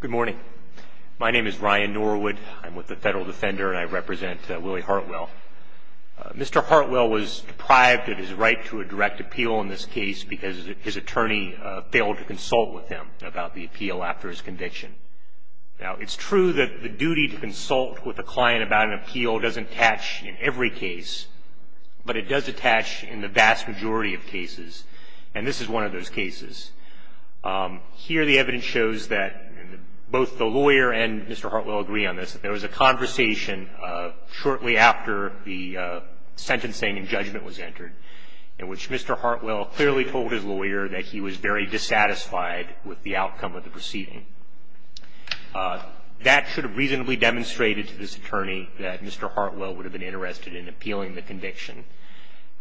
Good morning. My name is Ryan Norwood. I'm with the Federal Defender and I represent Willie Hartwell. Mr. Hartwell was deprived of his right to a direct appeal in this case because his attorney failed to consult with him about the appeal after his conviction. Now it's true that the duty to consult with a client about an appeal doesn't attach in every case, but it does attach in the vast majority of cases, and this is one of those cases. Here the evidence shows that both the lawyer and Mr. Hartwell agree on this, that there was a conversation shortly after the sentencing and judgment was entered in which Mr. Hartwell clearly told his lawyer that he was very dissatisfied with the outcome of the proceeding. That should have reasonably demonstrated to this attorney that Mr. Hartwell would have been interested in appealing the conviction.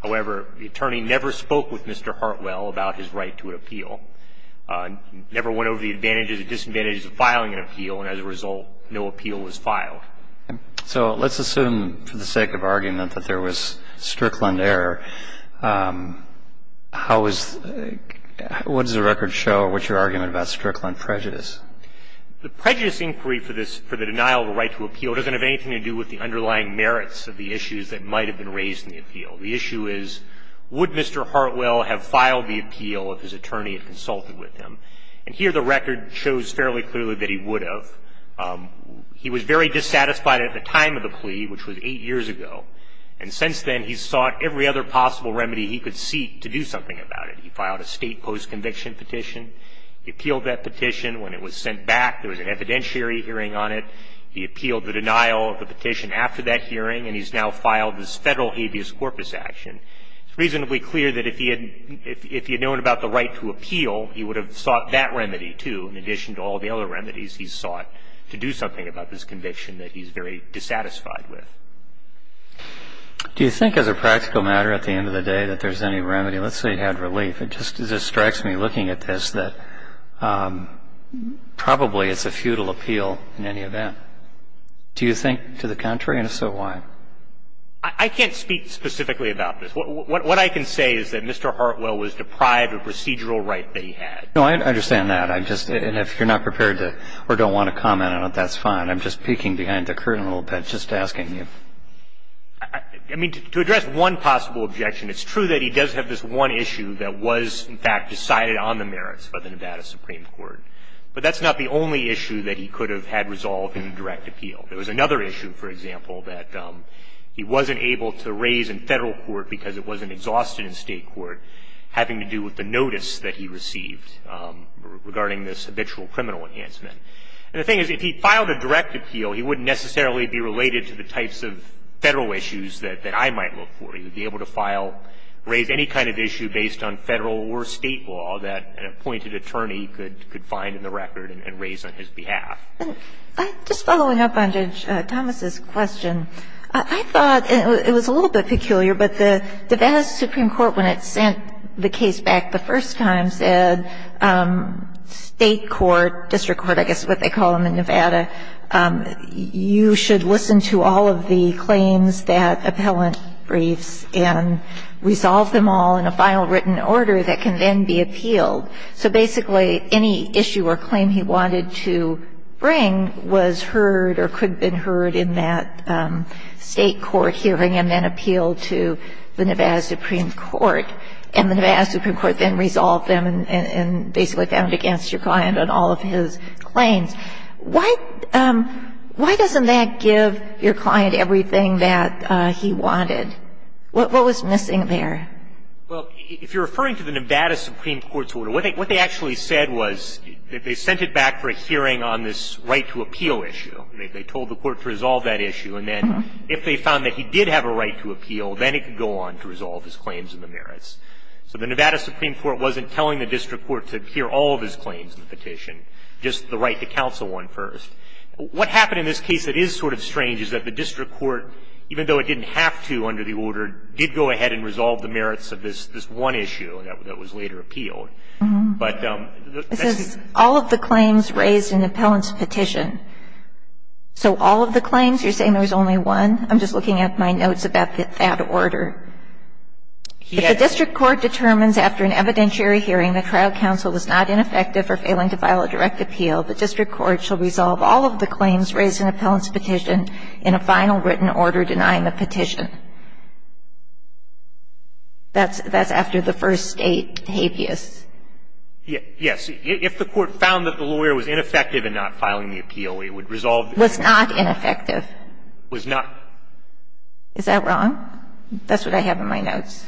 However, the attorney never spoke with Mr. Hartwell about his right to an appeal, never went over the advantages and disadvantages of filing an appeal, and as a result, no appeal was filed. So let's assume for the sake of argument that there was Strickland error. How is the – what does the record show or what's your argument about Strickland prejudice? The prejudice inquiry for this – for the denial of a right to appeal doesn't have anything to do with the underlying merits of the issues that might have been raised in the appeal. The issue is would Mr. Hartwell have filed the appeal if his attorney had consulted with him? And here the record shows fairly clearly that he would have. He was very dissatisfied at the time of the plea, which was eight years ago, and since then he's sought every other possible remedy he could seek to do something about it. He filed a state post-conviction petition. He appealed that petition. When it was sent back, there was an evidentiary hearing on it. He appealed the denial of the petition after that hearing, and he's now filed this Federal habeas corpus action. It's reasonably clear that if he had known about the right to appeal, he would have sought that remedy, too, in addition to all the other remedies he's sought to do something about this conviction that he's very dissatisfied with. Do you think as a practical matter at the end of the day that there's any remedy? Let's say he had relief. It just strikes me looking at this that probably it's a futile appeal in any event. Do you think to the contrary? And if so, why? I can't speak specifically about this. What I can say is that Mr. Hartwell was deprived of procedural right that he had. No, I understand that. I'm just – and if you're not prepared to or don't want to comment on it, that's fine. I'm just peeking behind the curtain a little bit, just asking you. I mean, to address one possible objection, it's true that he does have this one issue that was, in fact, decided on the merits by the Nevada Supreme Court. But that's not the only issue that he could have had resolved in a direct appeal. There was another issue, for example, that he wasn't able to raise in Federal court because it wasn't exhausted in State court, having to do with the notice that he received regarding this habitual criminal enhancement. And the thing is, if he filed a direct appeal, he wouldn't necessarily be related to the types of Federal issues that I might look for. He would be able to file – raise any kind of issue based on Federal or State law that an appointed attorney could find in the record and raise on his behalf. Just following up on Judge Thomas' question, I thought – and it was a little bit peculiar, but the Nevada Supreme Court, when it sent the case back the first time, said State court, district court, I guess is what they call them in Nevada, you should listen to all of the claims that appellant briefs and resolve them all in a final written order that can then be appealed. So basically, any issue or claim he wanted to bring was heard or could have been heard in that State court hearing and then appealed to the Nevada Supreme Court. And the Nevada Supreme Court then resolved them and basically found it against your client on all of his claims. Why doesn't that give your client everything that he wanted? What was missing there? Well, if you're referring to the Nevada Supreme Court's order, what they actually said was that they sent it back for a hearing on this right to appeal issue. They told the court to resolve that issue. And then if they found that he did have a right to appeal, then it could go on to resolve all of his claims and the merits. So the Nevada Supreme Court wasn't telling the district court to hear all of his claims in the petition, just the right to counsel one first. What happened in this case that is sort of strange is that the district court, even though it didn't have to under the order, did go ahead and resolve the merits of this one issue that was later appealed. But the next thing you can say is that the district court didn't have to. It says all of the claims raised in the appellant's petition. So all of the claims? You're saying there was only one? I'm just looking at my notes about that order. If the district court determines after an evidentiary hearing the trial counsel was not ineffective or failing to file a direct appeal, the district court shall resolve all of the claims raised in the appellant's petition in a final written order denying the petition. That's after the first state habeas. Yes. If the court found that the lawyer was ineffective in not filing the appeal, it would resolve the petition. Was not ineffective. Was not. Is that wrong? That's what I have in my notes.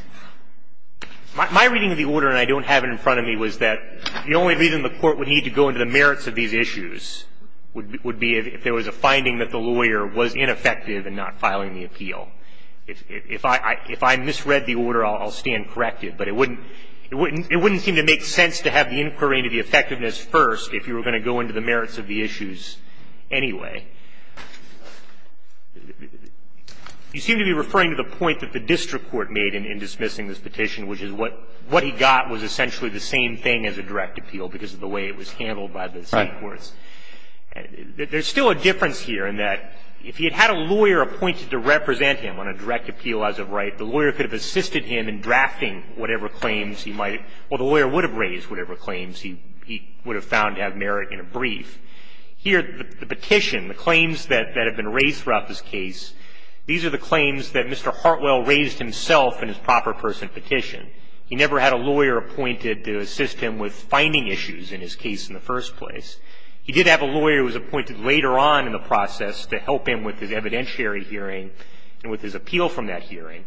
My reading of the order, and I don't have it in front of me, was that the only reason the court would need to go into the merits of these issues would be if there was a finding that the lawyer was ineffective in not filing the appeal. If I misread the order, I'll stand corrected. But it wouldn't seem to make sense to have the inquiry into the effectiveness first if you were going to go into the merits of the issues anyway. You seem to be referring to the point that the district court made in dismissing this petition, which is what he got was essentially the same thing as a direct appeal because of the way it was handled by the state courts. Right. There's still a difference here in that if he had had a lawyer appointed to represent him on a direct appeal as of right, the lawyer could have assisted him in drafting whatever claims he might have or the lawyer would have raised whatever claims he would have found to have merit in a brief. Here, the petition, the claims that have been raised throughout this case, these are the claims that Mr. Hartwell raised himself in his proper person petition. He never had a lawyer appointed to assist him with finding issues in his case in the first place. He did have a lawyer who was appointed later on in the process to help him with his evidentiary hearing and with his appeal from that hearing.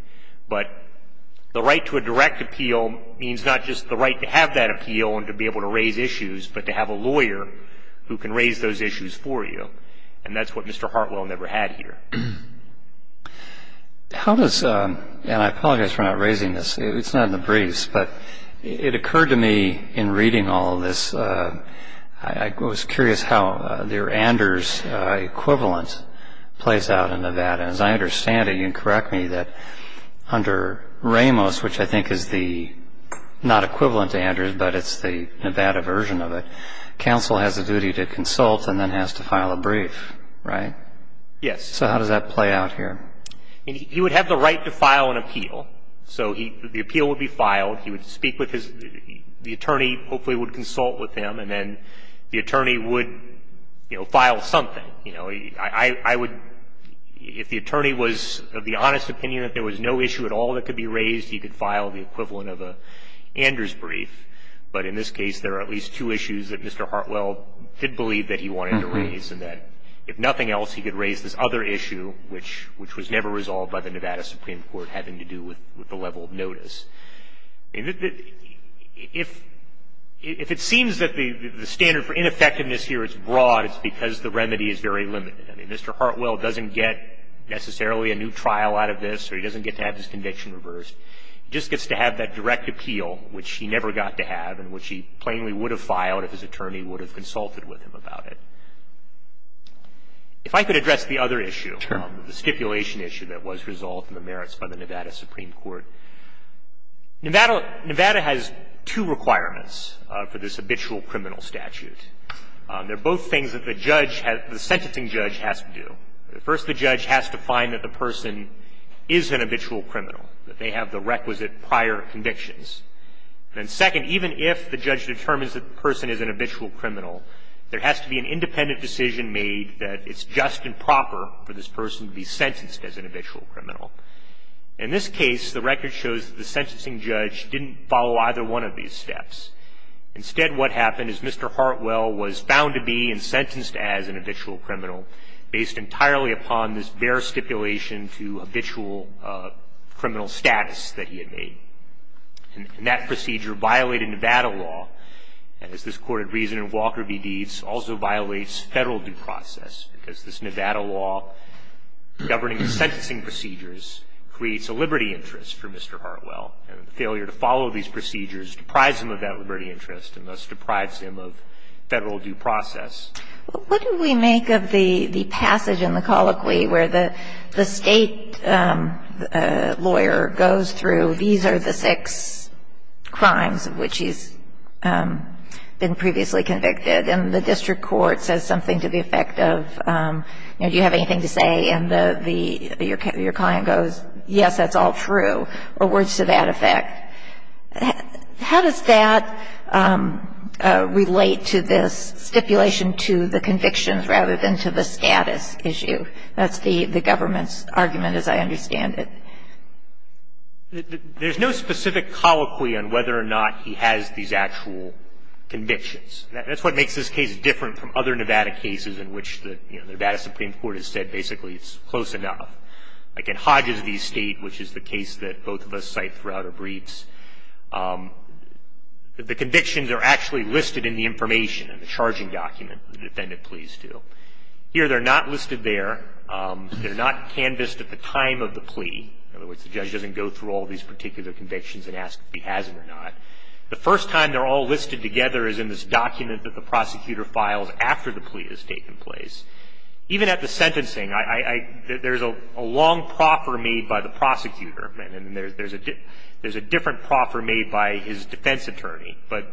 But the right to a direct appeal means not just the right to have that appeal and to be able to raise issues, but to have a lawyer who can raise those issues for you. And that's what Mr. Hartwell never had here. How does, and I apologize for not raising this, it's not in the briefs, but it occurred to me in reading all of this, I was curious how your Anders equivalent plays out in Nevada. And as I understand it, you can correct me that under Ramos, which I think is the not equivalent to Anders, but it's the Nevada version of it, counsel has a duty to consult and then has to file a brief, right? Yes. So how does that play out here? He would have the right to file an appeal. So the appeal would be filed. He would speak with his, the attorney hopefully would consult with him, and then the attorney would, you know, file something. You know, I would, if the attorney was of the honest opinion that there was no issue at all that could be raised, he could file the equivalent of an Anders brief. But in this case, there are at least two issues that Mr. Hartwell did believe that he wanted to raise, and that if nothing else, he could raise this other issue, which was never resolved by the Nevada Supreme Court having to do with the level of notice. If it seems that the standard for ineffectiveness here is broad, it's because the remedy is very limited. I mean, Mr. Hartwell doesn't get necessarily a new trial out of this, or he doesn't get to have his conviction reversed. He just gets to have that direct appeal, which he never got to have and which he plainly would have filed if his attorney would have consulted with him about it. If I could address the other issue. Sure. The stipulation issue that was resolved in the merits by the Nevada Supreme Court. Nevada has two requirements for this habitual criminal statute. They're both things that the judge has, the sentencing judge has to do. First, the judge has to find that the person is an habitual criminal, that they have the requisite prior convictions. And second, even if the judge determines that the person is an habitual criminal, there has to be an independent decision made that it's just and proper for this person to be sentenced as an habitual criminal. In this case, the record shows that the sentencing judge didn't follow either one of these steps. Instead, what happened is Mr. Hartwell was found to be and sentenced as an habitual criminal based entirely upon this bare stipulation to habitual criminal status that he had made. And that procedure violated Nevada law. And as this Court had reasoned, Walker v. Deeds also violates Federal due process because this Nevada law governing the sentencing procedures creates a liberty interest for Mr. Hartwell. And the failure to follow these procedures deprives him of that liberty interest and thus deprives him of Federal due process. What do we make of the passage in the colloquy where the State lawyer goes through these are the six crimes of which he's been previously convicted, and the district court says something to the effect of, you know, do you have anything to say? And your client goes, yes, that's all true, or words to that effect. How does that relate to this stipulation to the convictions rather than to the status issue? That's the government's argument as I understand it. There's no specific colloquy on whether or not he has these actual convictions. That's what makes this case different from other Nevada cases in which the Nevada Supreme Court has said basically it's close enough. Like in Hodges v. State, which is the case that both of us cite throughout our briefs, the convictions are actually listed in the information, in the charging document the defendant pleads to. Here they're not listed there. They're not canvassed at the time of the plea. In other words, the judge doesn't go through all these particular convictions and ask if he has it or not. The first time they're all listed together is in this document that the prosecutor files after the plea has taken place. Even at the sentencing, there's a long proffer made by the prosecutor. And there's a different proffer made by his defense attorney. But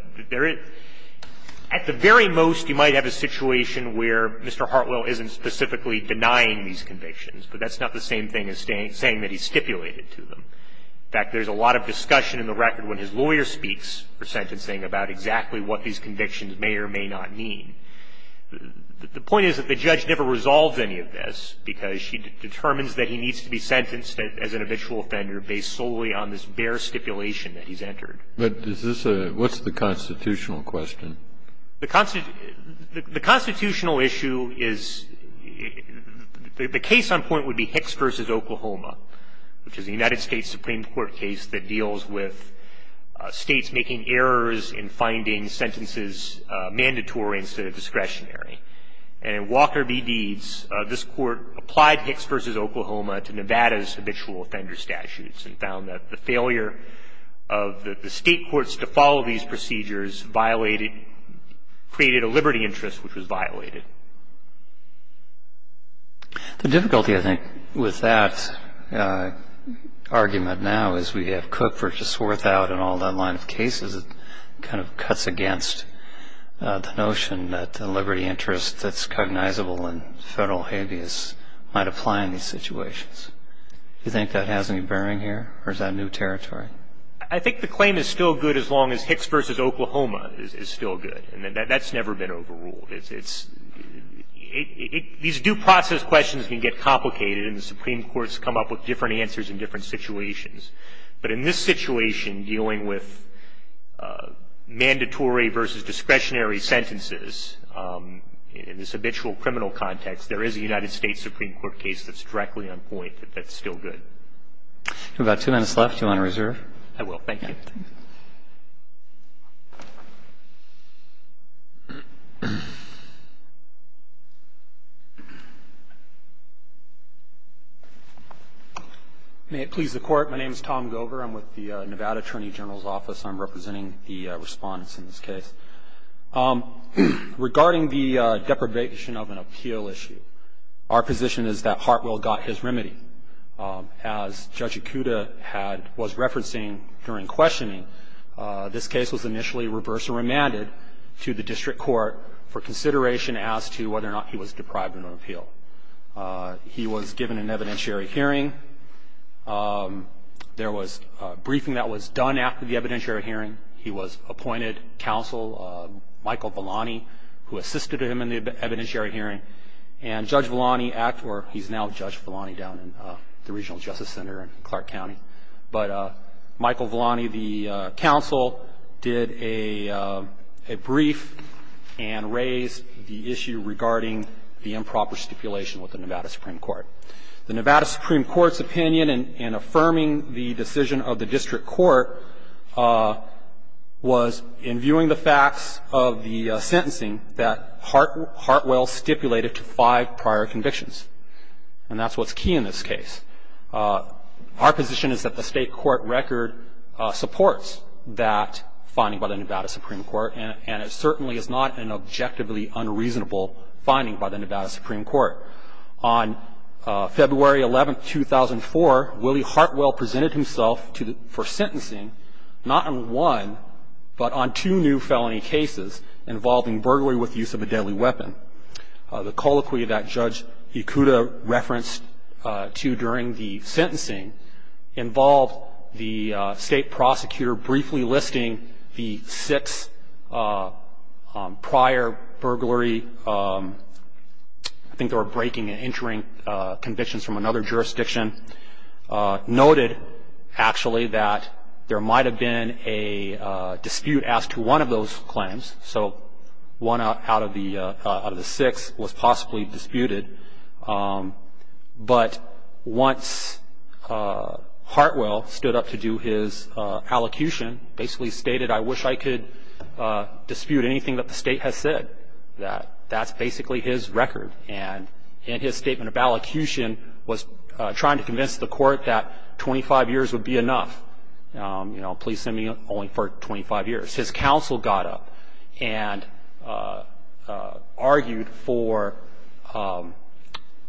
at the very most, you might have a situation where Mr. Hartwell isn't specifically denying these convictions. But that's not the same thing as saying that he's stipulated to them. In fact, there's a lot of discussion in the record when his lawyer speaks for sentencing about exactly what these convictions may or may not mean. The point is that the judge never resolves any of this because she determines that he needs to be sentenced as an official offender based solely on this bare stipulation that he's entered. But is this a – what's the constitutional question? The constitutional issue is – the case on point would be Hicks v. Oklahoma, which is a United States Supreme Court case that deals with States making errors in finding sentences mandatory instead of discretionary. And in Walker v. Deeds, this Court applied Hicks v. Oklahoma to Nevada's habitual offender statutes and found that the failure of the State courts to follow these procedures violated – created a liberty interest which was violated. The difficulty, I think, with that argument now is we have Cook v. Swarthout and all that line of cases that kind of cuts against the notion that the liberty interest that's cognizable in federal habeas might apply in these situations. Do you think that has any bearing here, or is that new territory? I think the claim is still good as long as Hicks v. Oklahoma is still good. And that's never been overruled. It's – these due process questions can get complicated, and the Supreme Court's come up with different answers in different situations. But in this situation, dealing with mandatory versus discretionary sentences, in this habitual criminal context, there is a United States Supreme Court case that's directly on point that that's still good. We've got two minutes left. Do you want to reserve? I will. Thank you. May it please the Court. My name is Tom Gover. I'm with the Nevada Attorney General's Office. I'm representing the respondents in this case. Regarding the deprivation of an appeal issue, our position is that Hartwell got his remedy. As Judge Ikuda had – was referencing during questioning, this case was initially reversed and remanded to the district court for consideration as to whether or not he was deprived of an appeal. He was given an evidentiary hearing. There was a briefing that was done after the evidentiary hearing. He was appointed counsel, Michael Villani, who assisted him in the evidentiary hearing. And Judge Villani – or he's now Judge Villani down in the Regional Justice Center in Clark County. But Michael Villani, the counsel, did a brief and raised the issue regarding the improper stipulation with the Nevada Supreme Court. The Nevada Supreme Court's opinion in affirming the decision of the district court was, in viewing the facts of the sentencing, that Hartwell stipulated to five prior convictions. And that's what's key in this case. Our position is that the state court record supports that finding by the Nevada Supreme Court, and it certainly is not an objectively unreasonable finding by the Nevada Supreme Court. On February 11, 2004, Willie Hartwell presented himself for sentencing, not on one, but on two new felony cases involving burglary with the use of a deadly weapon. The colloquy that Judge Ikuda referenced to during the sentencing involved the state prosecutor briefly listing the six prior burglary – I think they were breaking and entering convictions from another jurisdiction – noted, actually, that there might have been a dispute as to one of those claims. So one out of the six was possibly disputed. But once Hartwell stood up to do his allocution, basically stated, I wish I could dispute anything that the state has said, that that's basically his record. And in his statement of allocution, was trying to convince the court that 25 years would be enough. You know, please send me only for 25 years. His counsel got up and argued for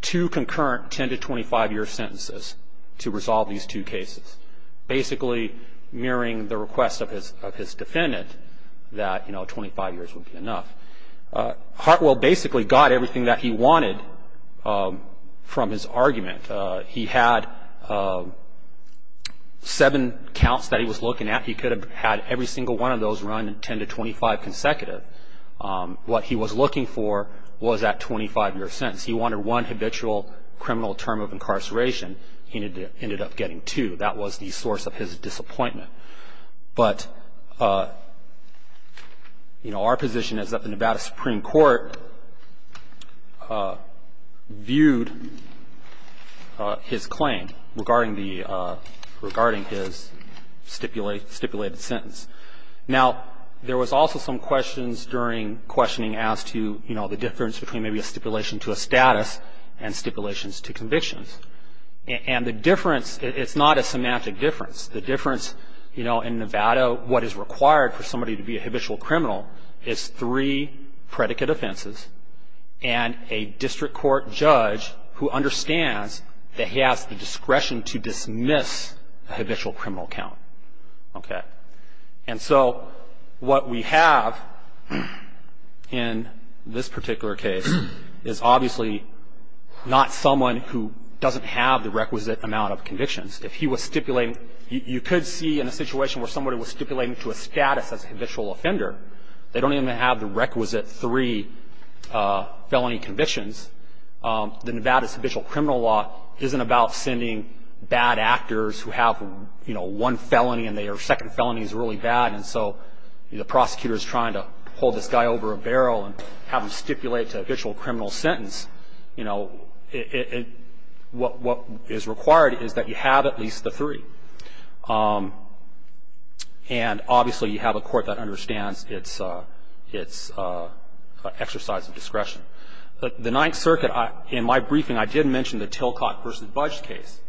two concurrent 10 to 25-year sentences to resolve these two cases, basically mirroring the request of his defendant that, you know, 25 years would be enough. Hartwell basically got everything that he wanted from his argument. He had seven counts that he was looking at. He could have had every single one of those run 10 to 25 consecutive. What he was looking for was that 25-year sentence. He wanted one habitual criminal term of incarceration. He ended up getting two. That was the source of his disappointment. But, you know, our position is that the Nevada Supreme Court viewed his claim regarding his stipulated sentence. Now, there was also some questions during questioning as to, you know, the difference between maybe a stipulation to a status and stipulations to convictions. And the difference, it's not a semantic difference. The difference, you know, in Nevada, what is required for somebody to be a habitual criminal is three predicate offenses and a district court judge who understands that he has the discretion to dismiss a habitual criminal count. Okay. And so what we have in this particular case is obviously not someone who doesn't have the requisite amount of convictions. If he was stipulating, you could see in a situation where somebody was stipulating to a status as a habitual offender, they don't even have the requisite three felony convictions. The Nevada's habitual criminal law isn't about sending bad actors who have, you know, one felony and their second felony is really bad and so the prosecutor is trying to hold this guy over a barrel and have him stipulate to a habitual criminal sentence. You know, what is required is that you have at least the three. And obviously you have a court that understands its exercise of discretion. The Ninth Circuit, in my briefing, I did mention the Tilcott v. Budge case,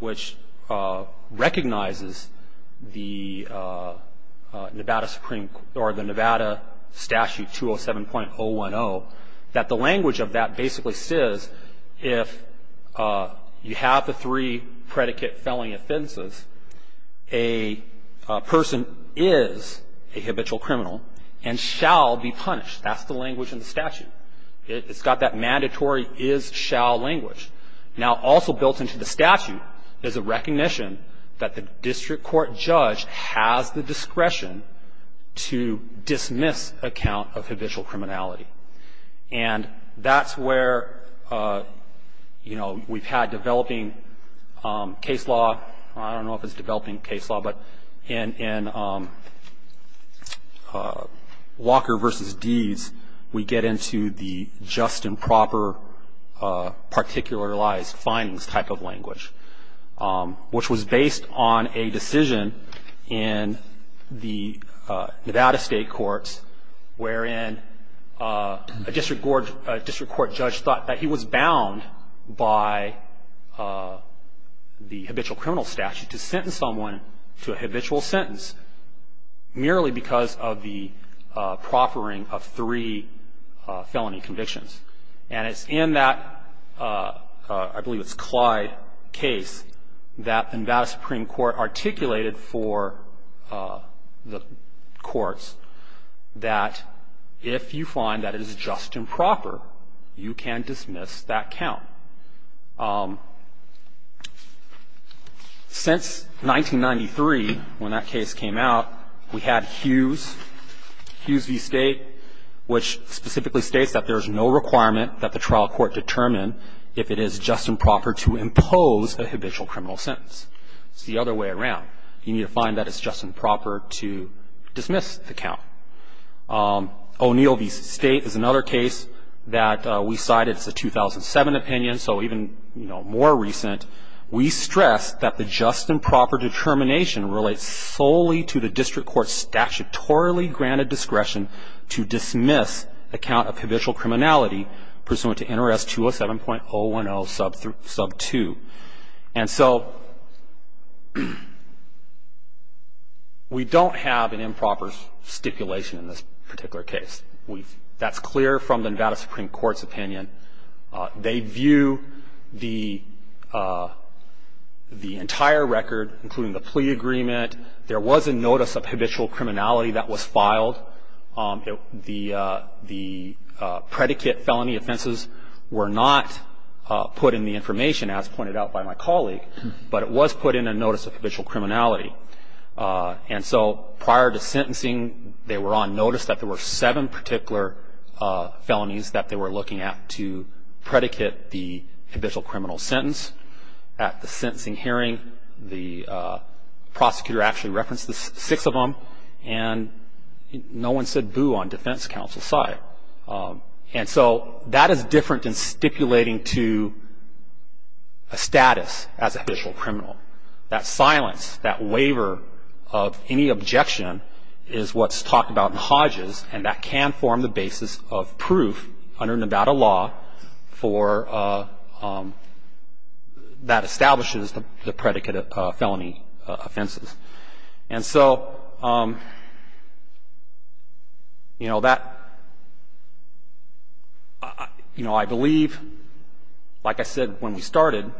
which recognizes the Nevada statute 207.010, that the language of that basically says if you have the three predicate felony offenses, a person is a habitual criminal and shall be punished. That's the language in the statute. It's got that mandatory is-shall language. Now, also built into the statute is a recognition that the district court judge has the discretion to dismiss account of habitual criminality. And that's where, you know, we've had developing case law. I don't know if it's developing case law, but in Walker v. Deese, we get into the just and proper particularized findings type of language, which was based on a decision in the Nevada state courts wherein a district court judge thought that he was bound by the habitual criminal statute to sentence someone to a habitual sentence, merely because of the proffering of three felony convictions. And it's in that, I believe it's Clyde case, that the Nevada Supreme Court articulated for the courts that if you find that it is just and proper, you can dismiss that count. Since 1993, when that case came out, we had Hughes v. State, which specifically states that there's no requirement that the trial court determine if it is just and proper to impose a habitual criminal sentence. It's the other way around. You need to find that it's just and proper to dismiss the count. O'Neill v. State is another case that we cited. It's a 2007 opinion, so even, you know, more recent. We stress that the just and proper determination relates solely to the district court's statutorily granted discretion to dismiss a count of habitual criminality pursuant to NRS 207.010 sub 2. And so we don't have an improper stipulation in this particular case. That's clear from the Nevada Supreme Court's opinion. They view the entire record, including the plea agreement. There was a notice of habitual criminality that was filed. The predicate felony offenses were not put in the information, as pointed out by my colleague, but it was put in a notice of habitual criminality. And so prior to sentencing, they were on notice that there were seven particular felonies that they were looking at to predicate the habitual criminal sentence. At the sentencing hearing, the prosecutor actually referenced the six of them, and no one said boo on defense counsel's side. And so that is different than stipulating to a status as a habitual criminal. That silence, that waiver of any objection is what's talked about in Hodges, and that can form the basis of proof under Nevada law for that establishes the predicate of felony offenses. And so, you know, that, you know, I believe, like I said when we started,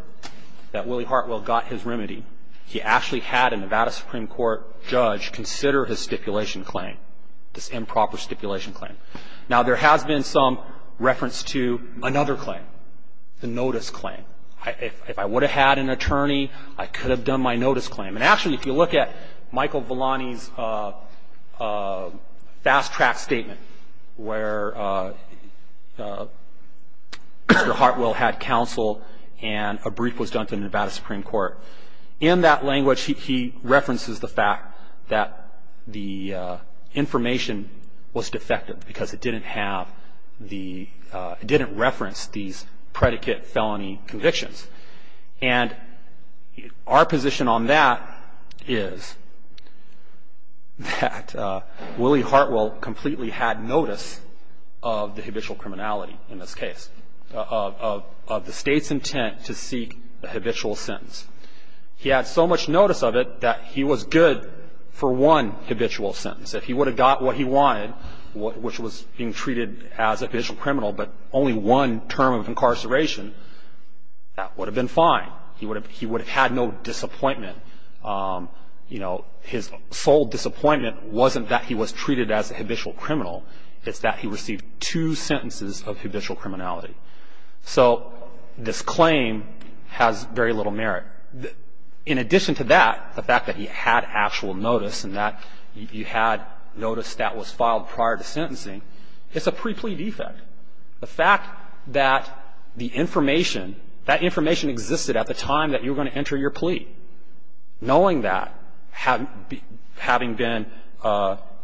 that Willie Hartwell got his remedy. He actually had a Nevada Supreme Court judge consider his stipulation claim, this improper stipulation claim. Now, there has been some reference to another claim, the notice claim. If I would have had an attorney, I could have done my notice claim. And actually, if you look at Michael Villani's fast-track statement where Mr. Hartwell had counsel and a brief was done to Nevada Supreme Court, in that language, he references the fact that the information was defective because it didn't have the, it didn't reference these predicate felony convictions. And our position on that is that Willie Hartwell completely had notice of the habitual criminality in this case, of the state's intent to seek a habitual sentence. He had so much notice of it that he was good for one habitual sentence. If he would have got what he wanted, which was being treated as a habitual criminal, but only one term of incarceration, that would have been fine. He would have had no disappointment. You know, his sole disappointment wasn't that he was treated as a habitual criminal. It's that he received two sentences of habitual criminality. So this claim has very little merit. In addition to that, the fact that he had actual notice and that he had notice that was filed prior to sentencing, it's a pre-plea defect. The fact that the information, that information existed at the time that you were going to enter your plea, knowing that, having been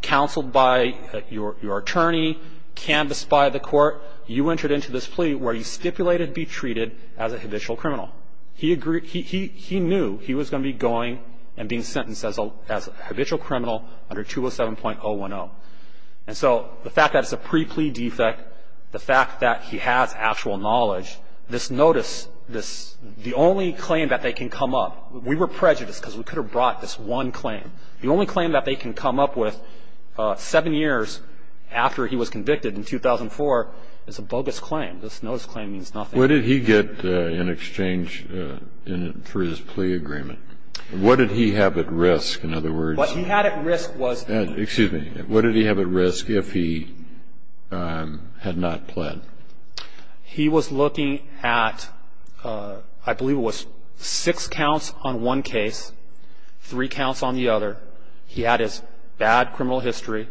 counseled by your attorney, canvassed by the court, you entered into this plea where you stipulated to be treated as a habitual criminal. He knew he was going to be going and being sentenced as a habitual criminal under 207.010. And so the fact that it's a pre-plea defect, the fact that he has actual knowledge, this notice, this, the only claim that they can come up, we were prejudiced because we could have brought this one claim. The only claim that they can come up with seven years after he was convicted in 2004 is a bogus claim. This notice claim means nothing. What did he get in exchange for his plea agreement? What did he have at risk, in other words? What he had at risk was Excuse me. What did he have at risk if he had not pled? He was looking at, I believe it was six counts on one case, three counts on the other. He had his bad criminal history.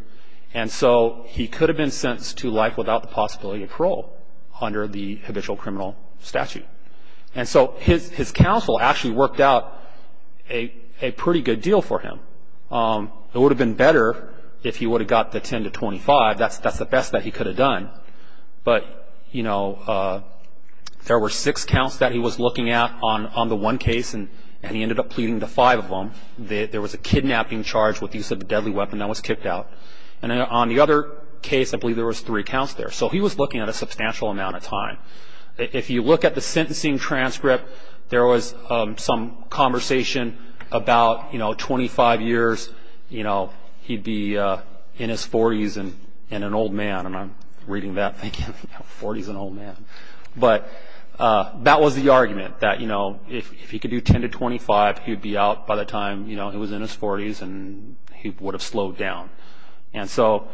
And so he could have been sentenced to life without the possibility of parole under the habitual criminal statute. And so his counsel actually worked out a pretty good deal for him. It would have been better if he would have got the 10 to 25. That's the best that he could have done. But, you know, there were six counts that he was looking at on the one case, and he ended up pleading the five of them. There was a kidnapping charge with the use of a deadly weapon that was kicked out. And on the other case, I believe there was three counts there. So he was looking at a substantial amount of time. If you look at the sentencing transcript, there was some conversation about, you know, 25 years. You know, he'd be in his 40s and an old man. And I'm reading that thinking, 40s and old man. But that was the argument, that, you know, if he could do 10 to 25, he would be out by the time, you know, he was in his 40s, and he would have slowed down. And so,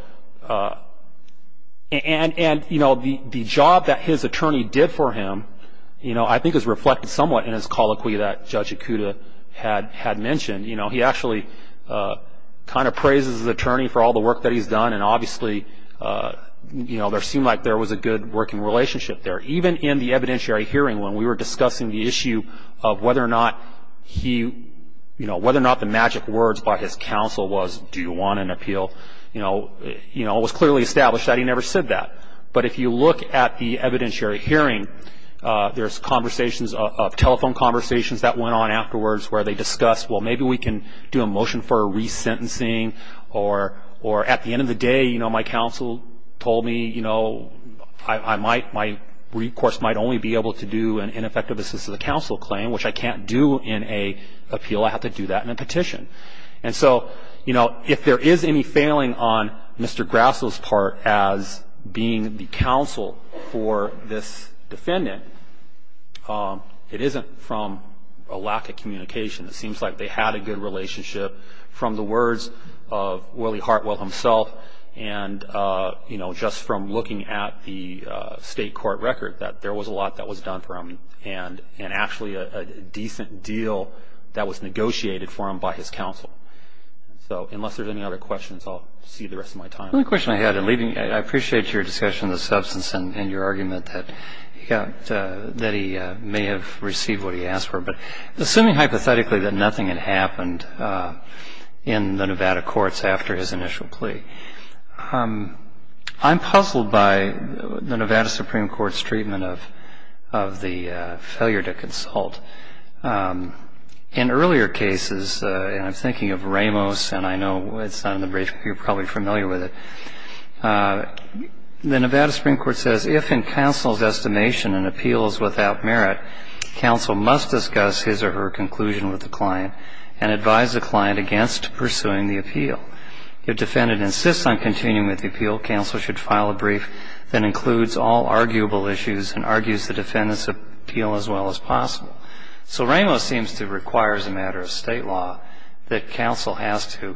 and, you know, the job that his attorney did for him, you know, I think is reflected somewhat in his colloquy that Judge Ikuda had mentioned. You know, he actually kind of praises his attorney for all the work that he's done. And obviously, you know, there seemed like there was a good working relationship there. Even in the evidentiary hearing when we were discussing the issue of whether or not he, you know, whether or not the magic words by his counsel was, do you want an appeal? You know, it was clearly established that he never said that. But if you look at the evidentiary hearing, there's conversations of telephone conversations that went on afterwards where they discussed, well, maybe we can do a motion for a resentencing, or at the end of the day, you know, my counsel told me, you know, I might, my recourse might only be able to do an ineffective assist to the counsel claim, which I can't do in an appeal. I have to do that in a petition. And so, you know, if there is any failing on Mr. Grasso's part as being the counsel for this defendant, it isn't from a lack of communication. It seems like they had a good relationship from the words of Willie Hartwell himself and, you know, just from looking at the state court record that there was a lot that was done for him and actually a decent deal that was negotiated for him by his counsel. So unless there's any other questions, I'll see you the rest of my time. One question I had in leaving, I appreciate your discussion of the substance and your argument that he may have received what he asked for, but assuming hypothetically that nothing had happened in the Nevada courts after his initial plea, I'm puzzled by the Nevada Supreme Court's treatment of the failure to consult. In earlier cases, and I'm thinking of Ramos, and I know it's not in the brief, you're probably familiar with it, the Nevada Supreme Court says, if in counsel's estimation an appeal is without merit, counsel must discuss his or her conclusion with the client and advise the client against pursuing the appeal. If defendant insists on continuing with the appeal, counsel should file a brief that includes all arguable issues and argues the defendant's appeal as well as possible. So Ramos seems to require as a matter of state law that counsel has to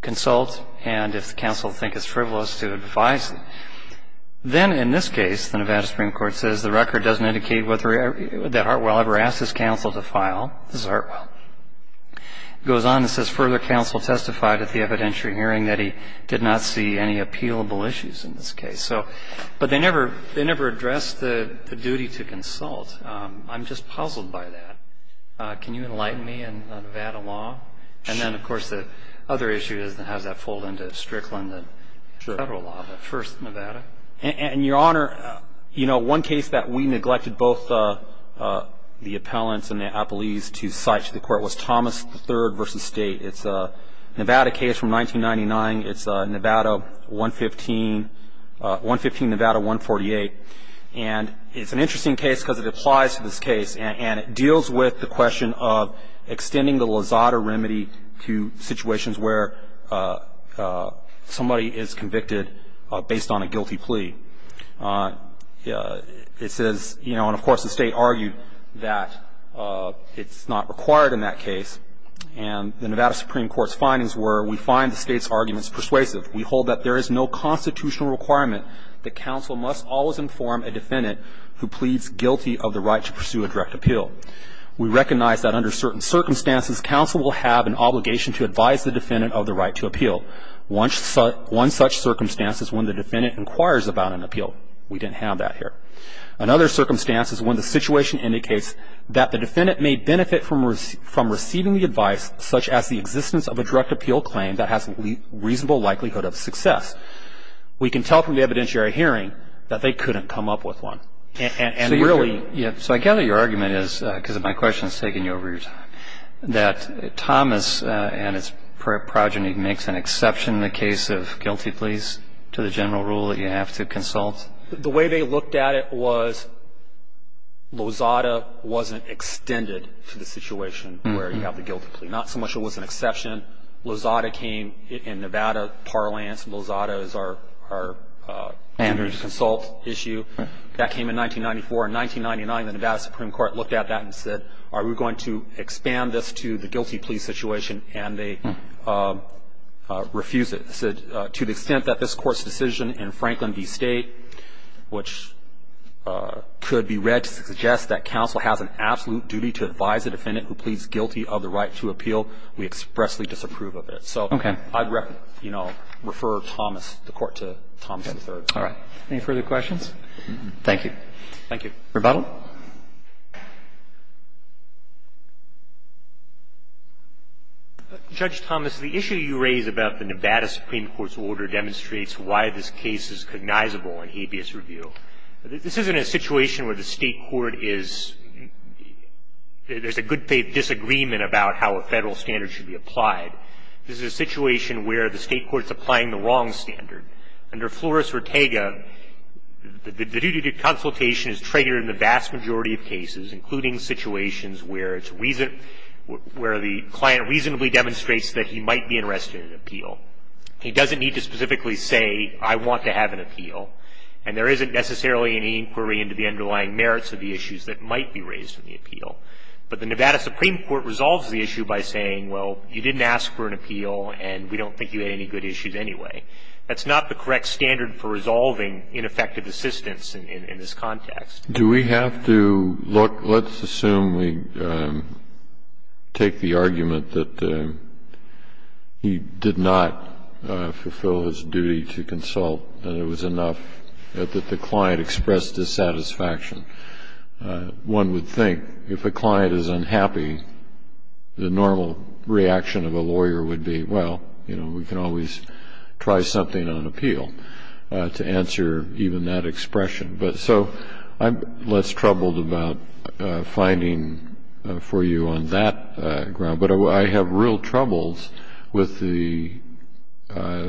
consult and if the counsel thinks it's frivolous to advise them. Then in this case, the Nevada Supreme Court says the record doesn't indicate that Hartwell ever asked his counsel to file. This is Hartwell. It goes on and says, further counsel testified at the evidentiary hearing that he did not see any appealable issues in this case. But they never addressed the duty to consult. I'm just puzzled by that. Can you enlighten me on the Nevada law? And then, of course, the other issue is how does that fold into Strickland and federal law. But first, Nevada. And, Your Honor, you know, one case that we neglected both the appellants and the appelees to cite to the court was Thomas III v. State. It's a Nevada case from 1999. It's a Nevada 115, 115 Nevada 148. And it's an interesting case because it applies to this case and it deals with the question of extending the Lozada remedy to situations where somebody is convicted based on a guilty plea. It says, you know, and, of course, the State argued that it's not required in that case. And the Nevada Supreme Court's findings were we find the State's arguments persuasive. We hold that there is no constitutional requirement that counsel must always inform a defendant who pleads guilty of the right to pursue a direct appeal. We recognize that under certain circumstances, counsel will have an obligation to advise the defendant of the right to appeal. One such circumstance is when the defendant inquires about an appeal. We didn't have that here. Another circumstance is when the situation indicates that the defendant may benefit from receiving the advice such as the existence of a direct appeal claim that has a reasonable likelihood of success. We can tell from the evidentiary hearing that they couldn't come up with one and really. So I gather your argument is, because my question has taken you over your time, that Thomas and his progeny makes an exception in the case of guilty pleas to the general rule that you have to consult. The way they looked at it was Lozada wasn't extended to the situation where you have the guilty plea. Not so much it was an exception. Lozada came in Nevada Parliance. Lozada is our Andrews Consult issue. That came in 1994. In 1999, the Nevada Supreme Court looked at that and said, are we going to expand this to the guilty plea situation? And they refused it. And they said, to the extent that this Court's decision in Franklin v. State, which could be read to suggest that counsel has an absolute duty to advise a defendant who pleads guilty of the right to appeal, we expressly disapprove of it. So I'd, you know, refer Thomas, the Court, to Thomas III. All right. Any further questions? Thank you. Thank you. Rebuttal. Judge Thomas, the issue you raise about the Nevada Supreme Court's order demonstrates why this case is cognizable in habeas review. This isn't a situation where the State court is – there's a good faith disagreement about how a Federal standard should be applied. This is a situation where the State court's applying the wrong standard. Under Flores-Rotega, the duty to consultation is triggered in the vast majority of cases including situations where it's – where the client reasonably demonstrates that he might be interested in an appeal. He doesn't need to specifically say, I want to have an appeal. And there isn't necessarily any inquiry into the underlying merits of the issues that might be raised in the appeal. But the Nevada Supreme Court resolves the issue by saying, well, you didn't ask for an appeal and we don't think you had any good issues anyway. That's not the correct standard for resolving ineffective assistance in this context. Do we have to look – let's assume we take the argument that he did not fulfill his duty to consult and it was enough that the client expressed dissatisfaction. One would think if a client is unhappy, the normal reaction of a lawyer would be, well, you know, we can always try something on appeal to answer even that expression. But so I'm less troubled about finding for you on that ground. But I have real troubles with the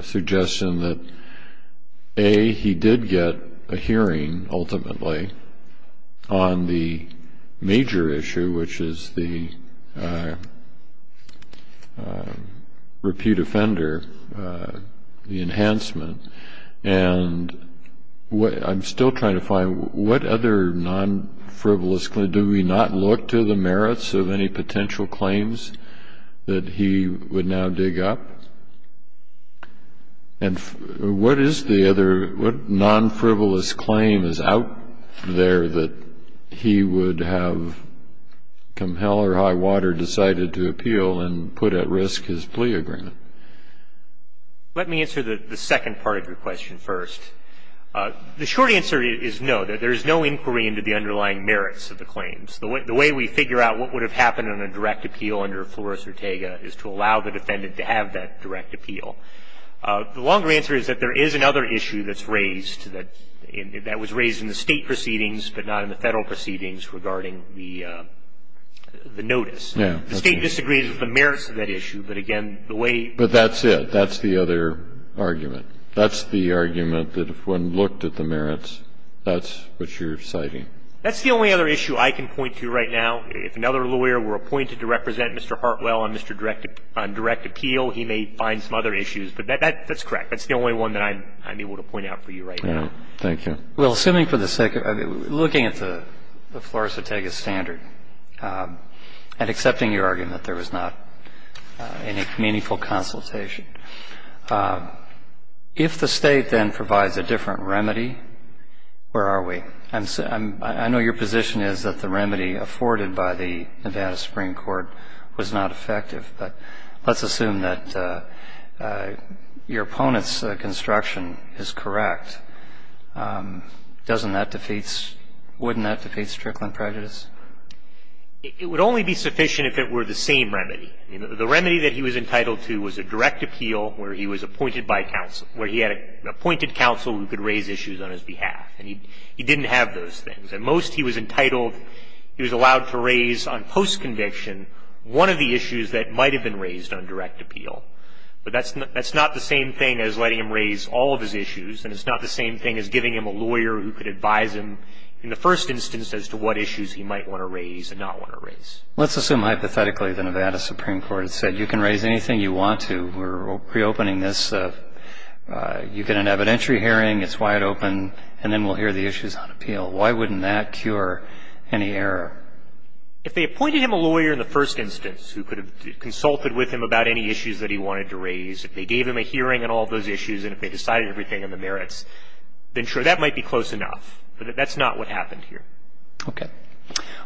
suggestion that, A, he did get a hearing ultimately on the major issue, which is the repute offender, the enhancement. And I'm still trying to find what other non-frivolous – do we not look to the merits of any potential claims that he would now dig up? And what is the other – what non-frivolous claim is out there that he would have, come hell or high water, decided to appeal and put at risk his plea agreement? Let me answer the second part of your question first. The short answer is no, that there is no inquiry into the underlying merits of the claims. The way we figure out what would have happened on a direct appeal under Flores-Ortega is to allow the defendant to have that direct appeal. The longer answer is that there is another issue that's raised that was raised in the State proceedings but not in the Federal proceedings regarding the notice. The State disagrees with the merits of that issue. But again, the way But that's it. That's the other argument. That's the argument that if one looked at the merits, that's what you're citing. That's the only other issue I can point to right now. If another lawyer were appointed to represent Mr. Hartwell on direct appeal, he may find some other issues. But that's correct. That's the only one that I'm able to point out for you right now. Thank you. Well, assuming for the sake of looking at the Flores-Ortega standard and accepting your argument there was not any meaningful consultation, if the State then provides a different remedy, where are we? I know your position is that the remedy afforded by the Nevada Supreme Court was not effective. But let's assume that your opponent's construction is correct. Doesn't that defeat – wouldn't that defeat strickling prejudice? It would only be sufficient if it were the same remedy. The remedy that he was entitled to was a direct appeal where he was appointed by counsel, where he had appointed counsel who could raise issues on his behalf. And he didn't have those things. At most, he was entitled – he was allowed to raise on post-conviction one of the issues that might have been raised on direct appeal. But that's not the same thing as letting him raise all of his issues, and it's not the same thing as giving him a lawyer who could advise him, in the first instance, as to what issues he might want to raise and not want to raise. Let's assume hypothetically the Nevada Supreme Court had said, you can raise anything you want to. We're reopening this. You get an evidentiary hearing. It's wide open. And then we'll hear the issues on appeal. Why wouldn't that cure any error? If they appointed him a lawyer in the first instance who could have consulted with him about any issues that he wanted to raise, if they gave him a hearing on all of those issues, and if they decided everything on the merits, then sure, that might be close enough. But that's not what happened here. Roberts. Okay.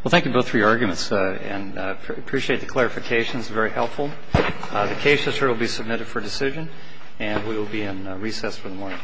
Well, thank you both for your arguments, and I appreciate the clarifications. Very helpful. The case is here to be submitted for decision, and we will be in recess for the morning. Thank you.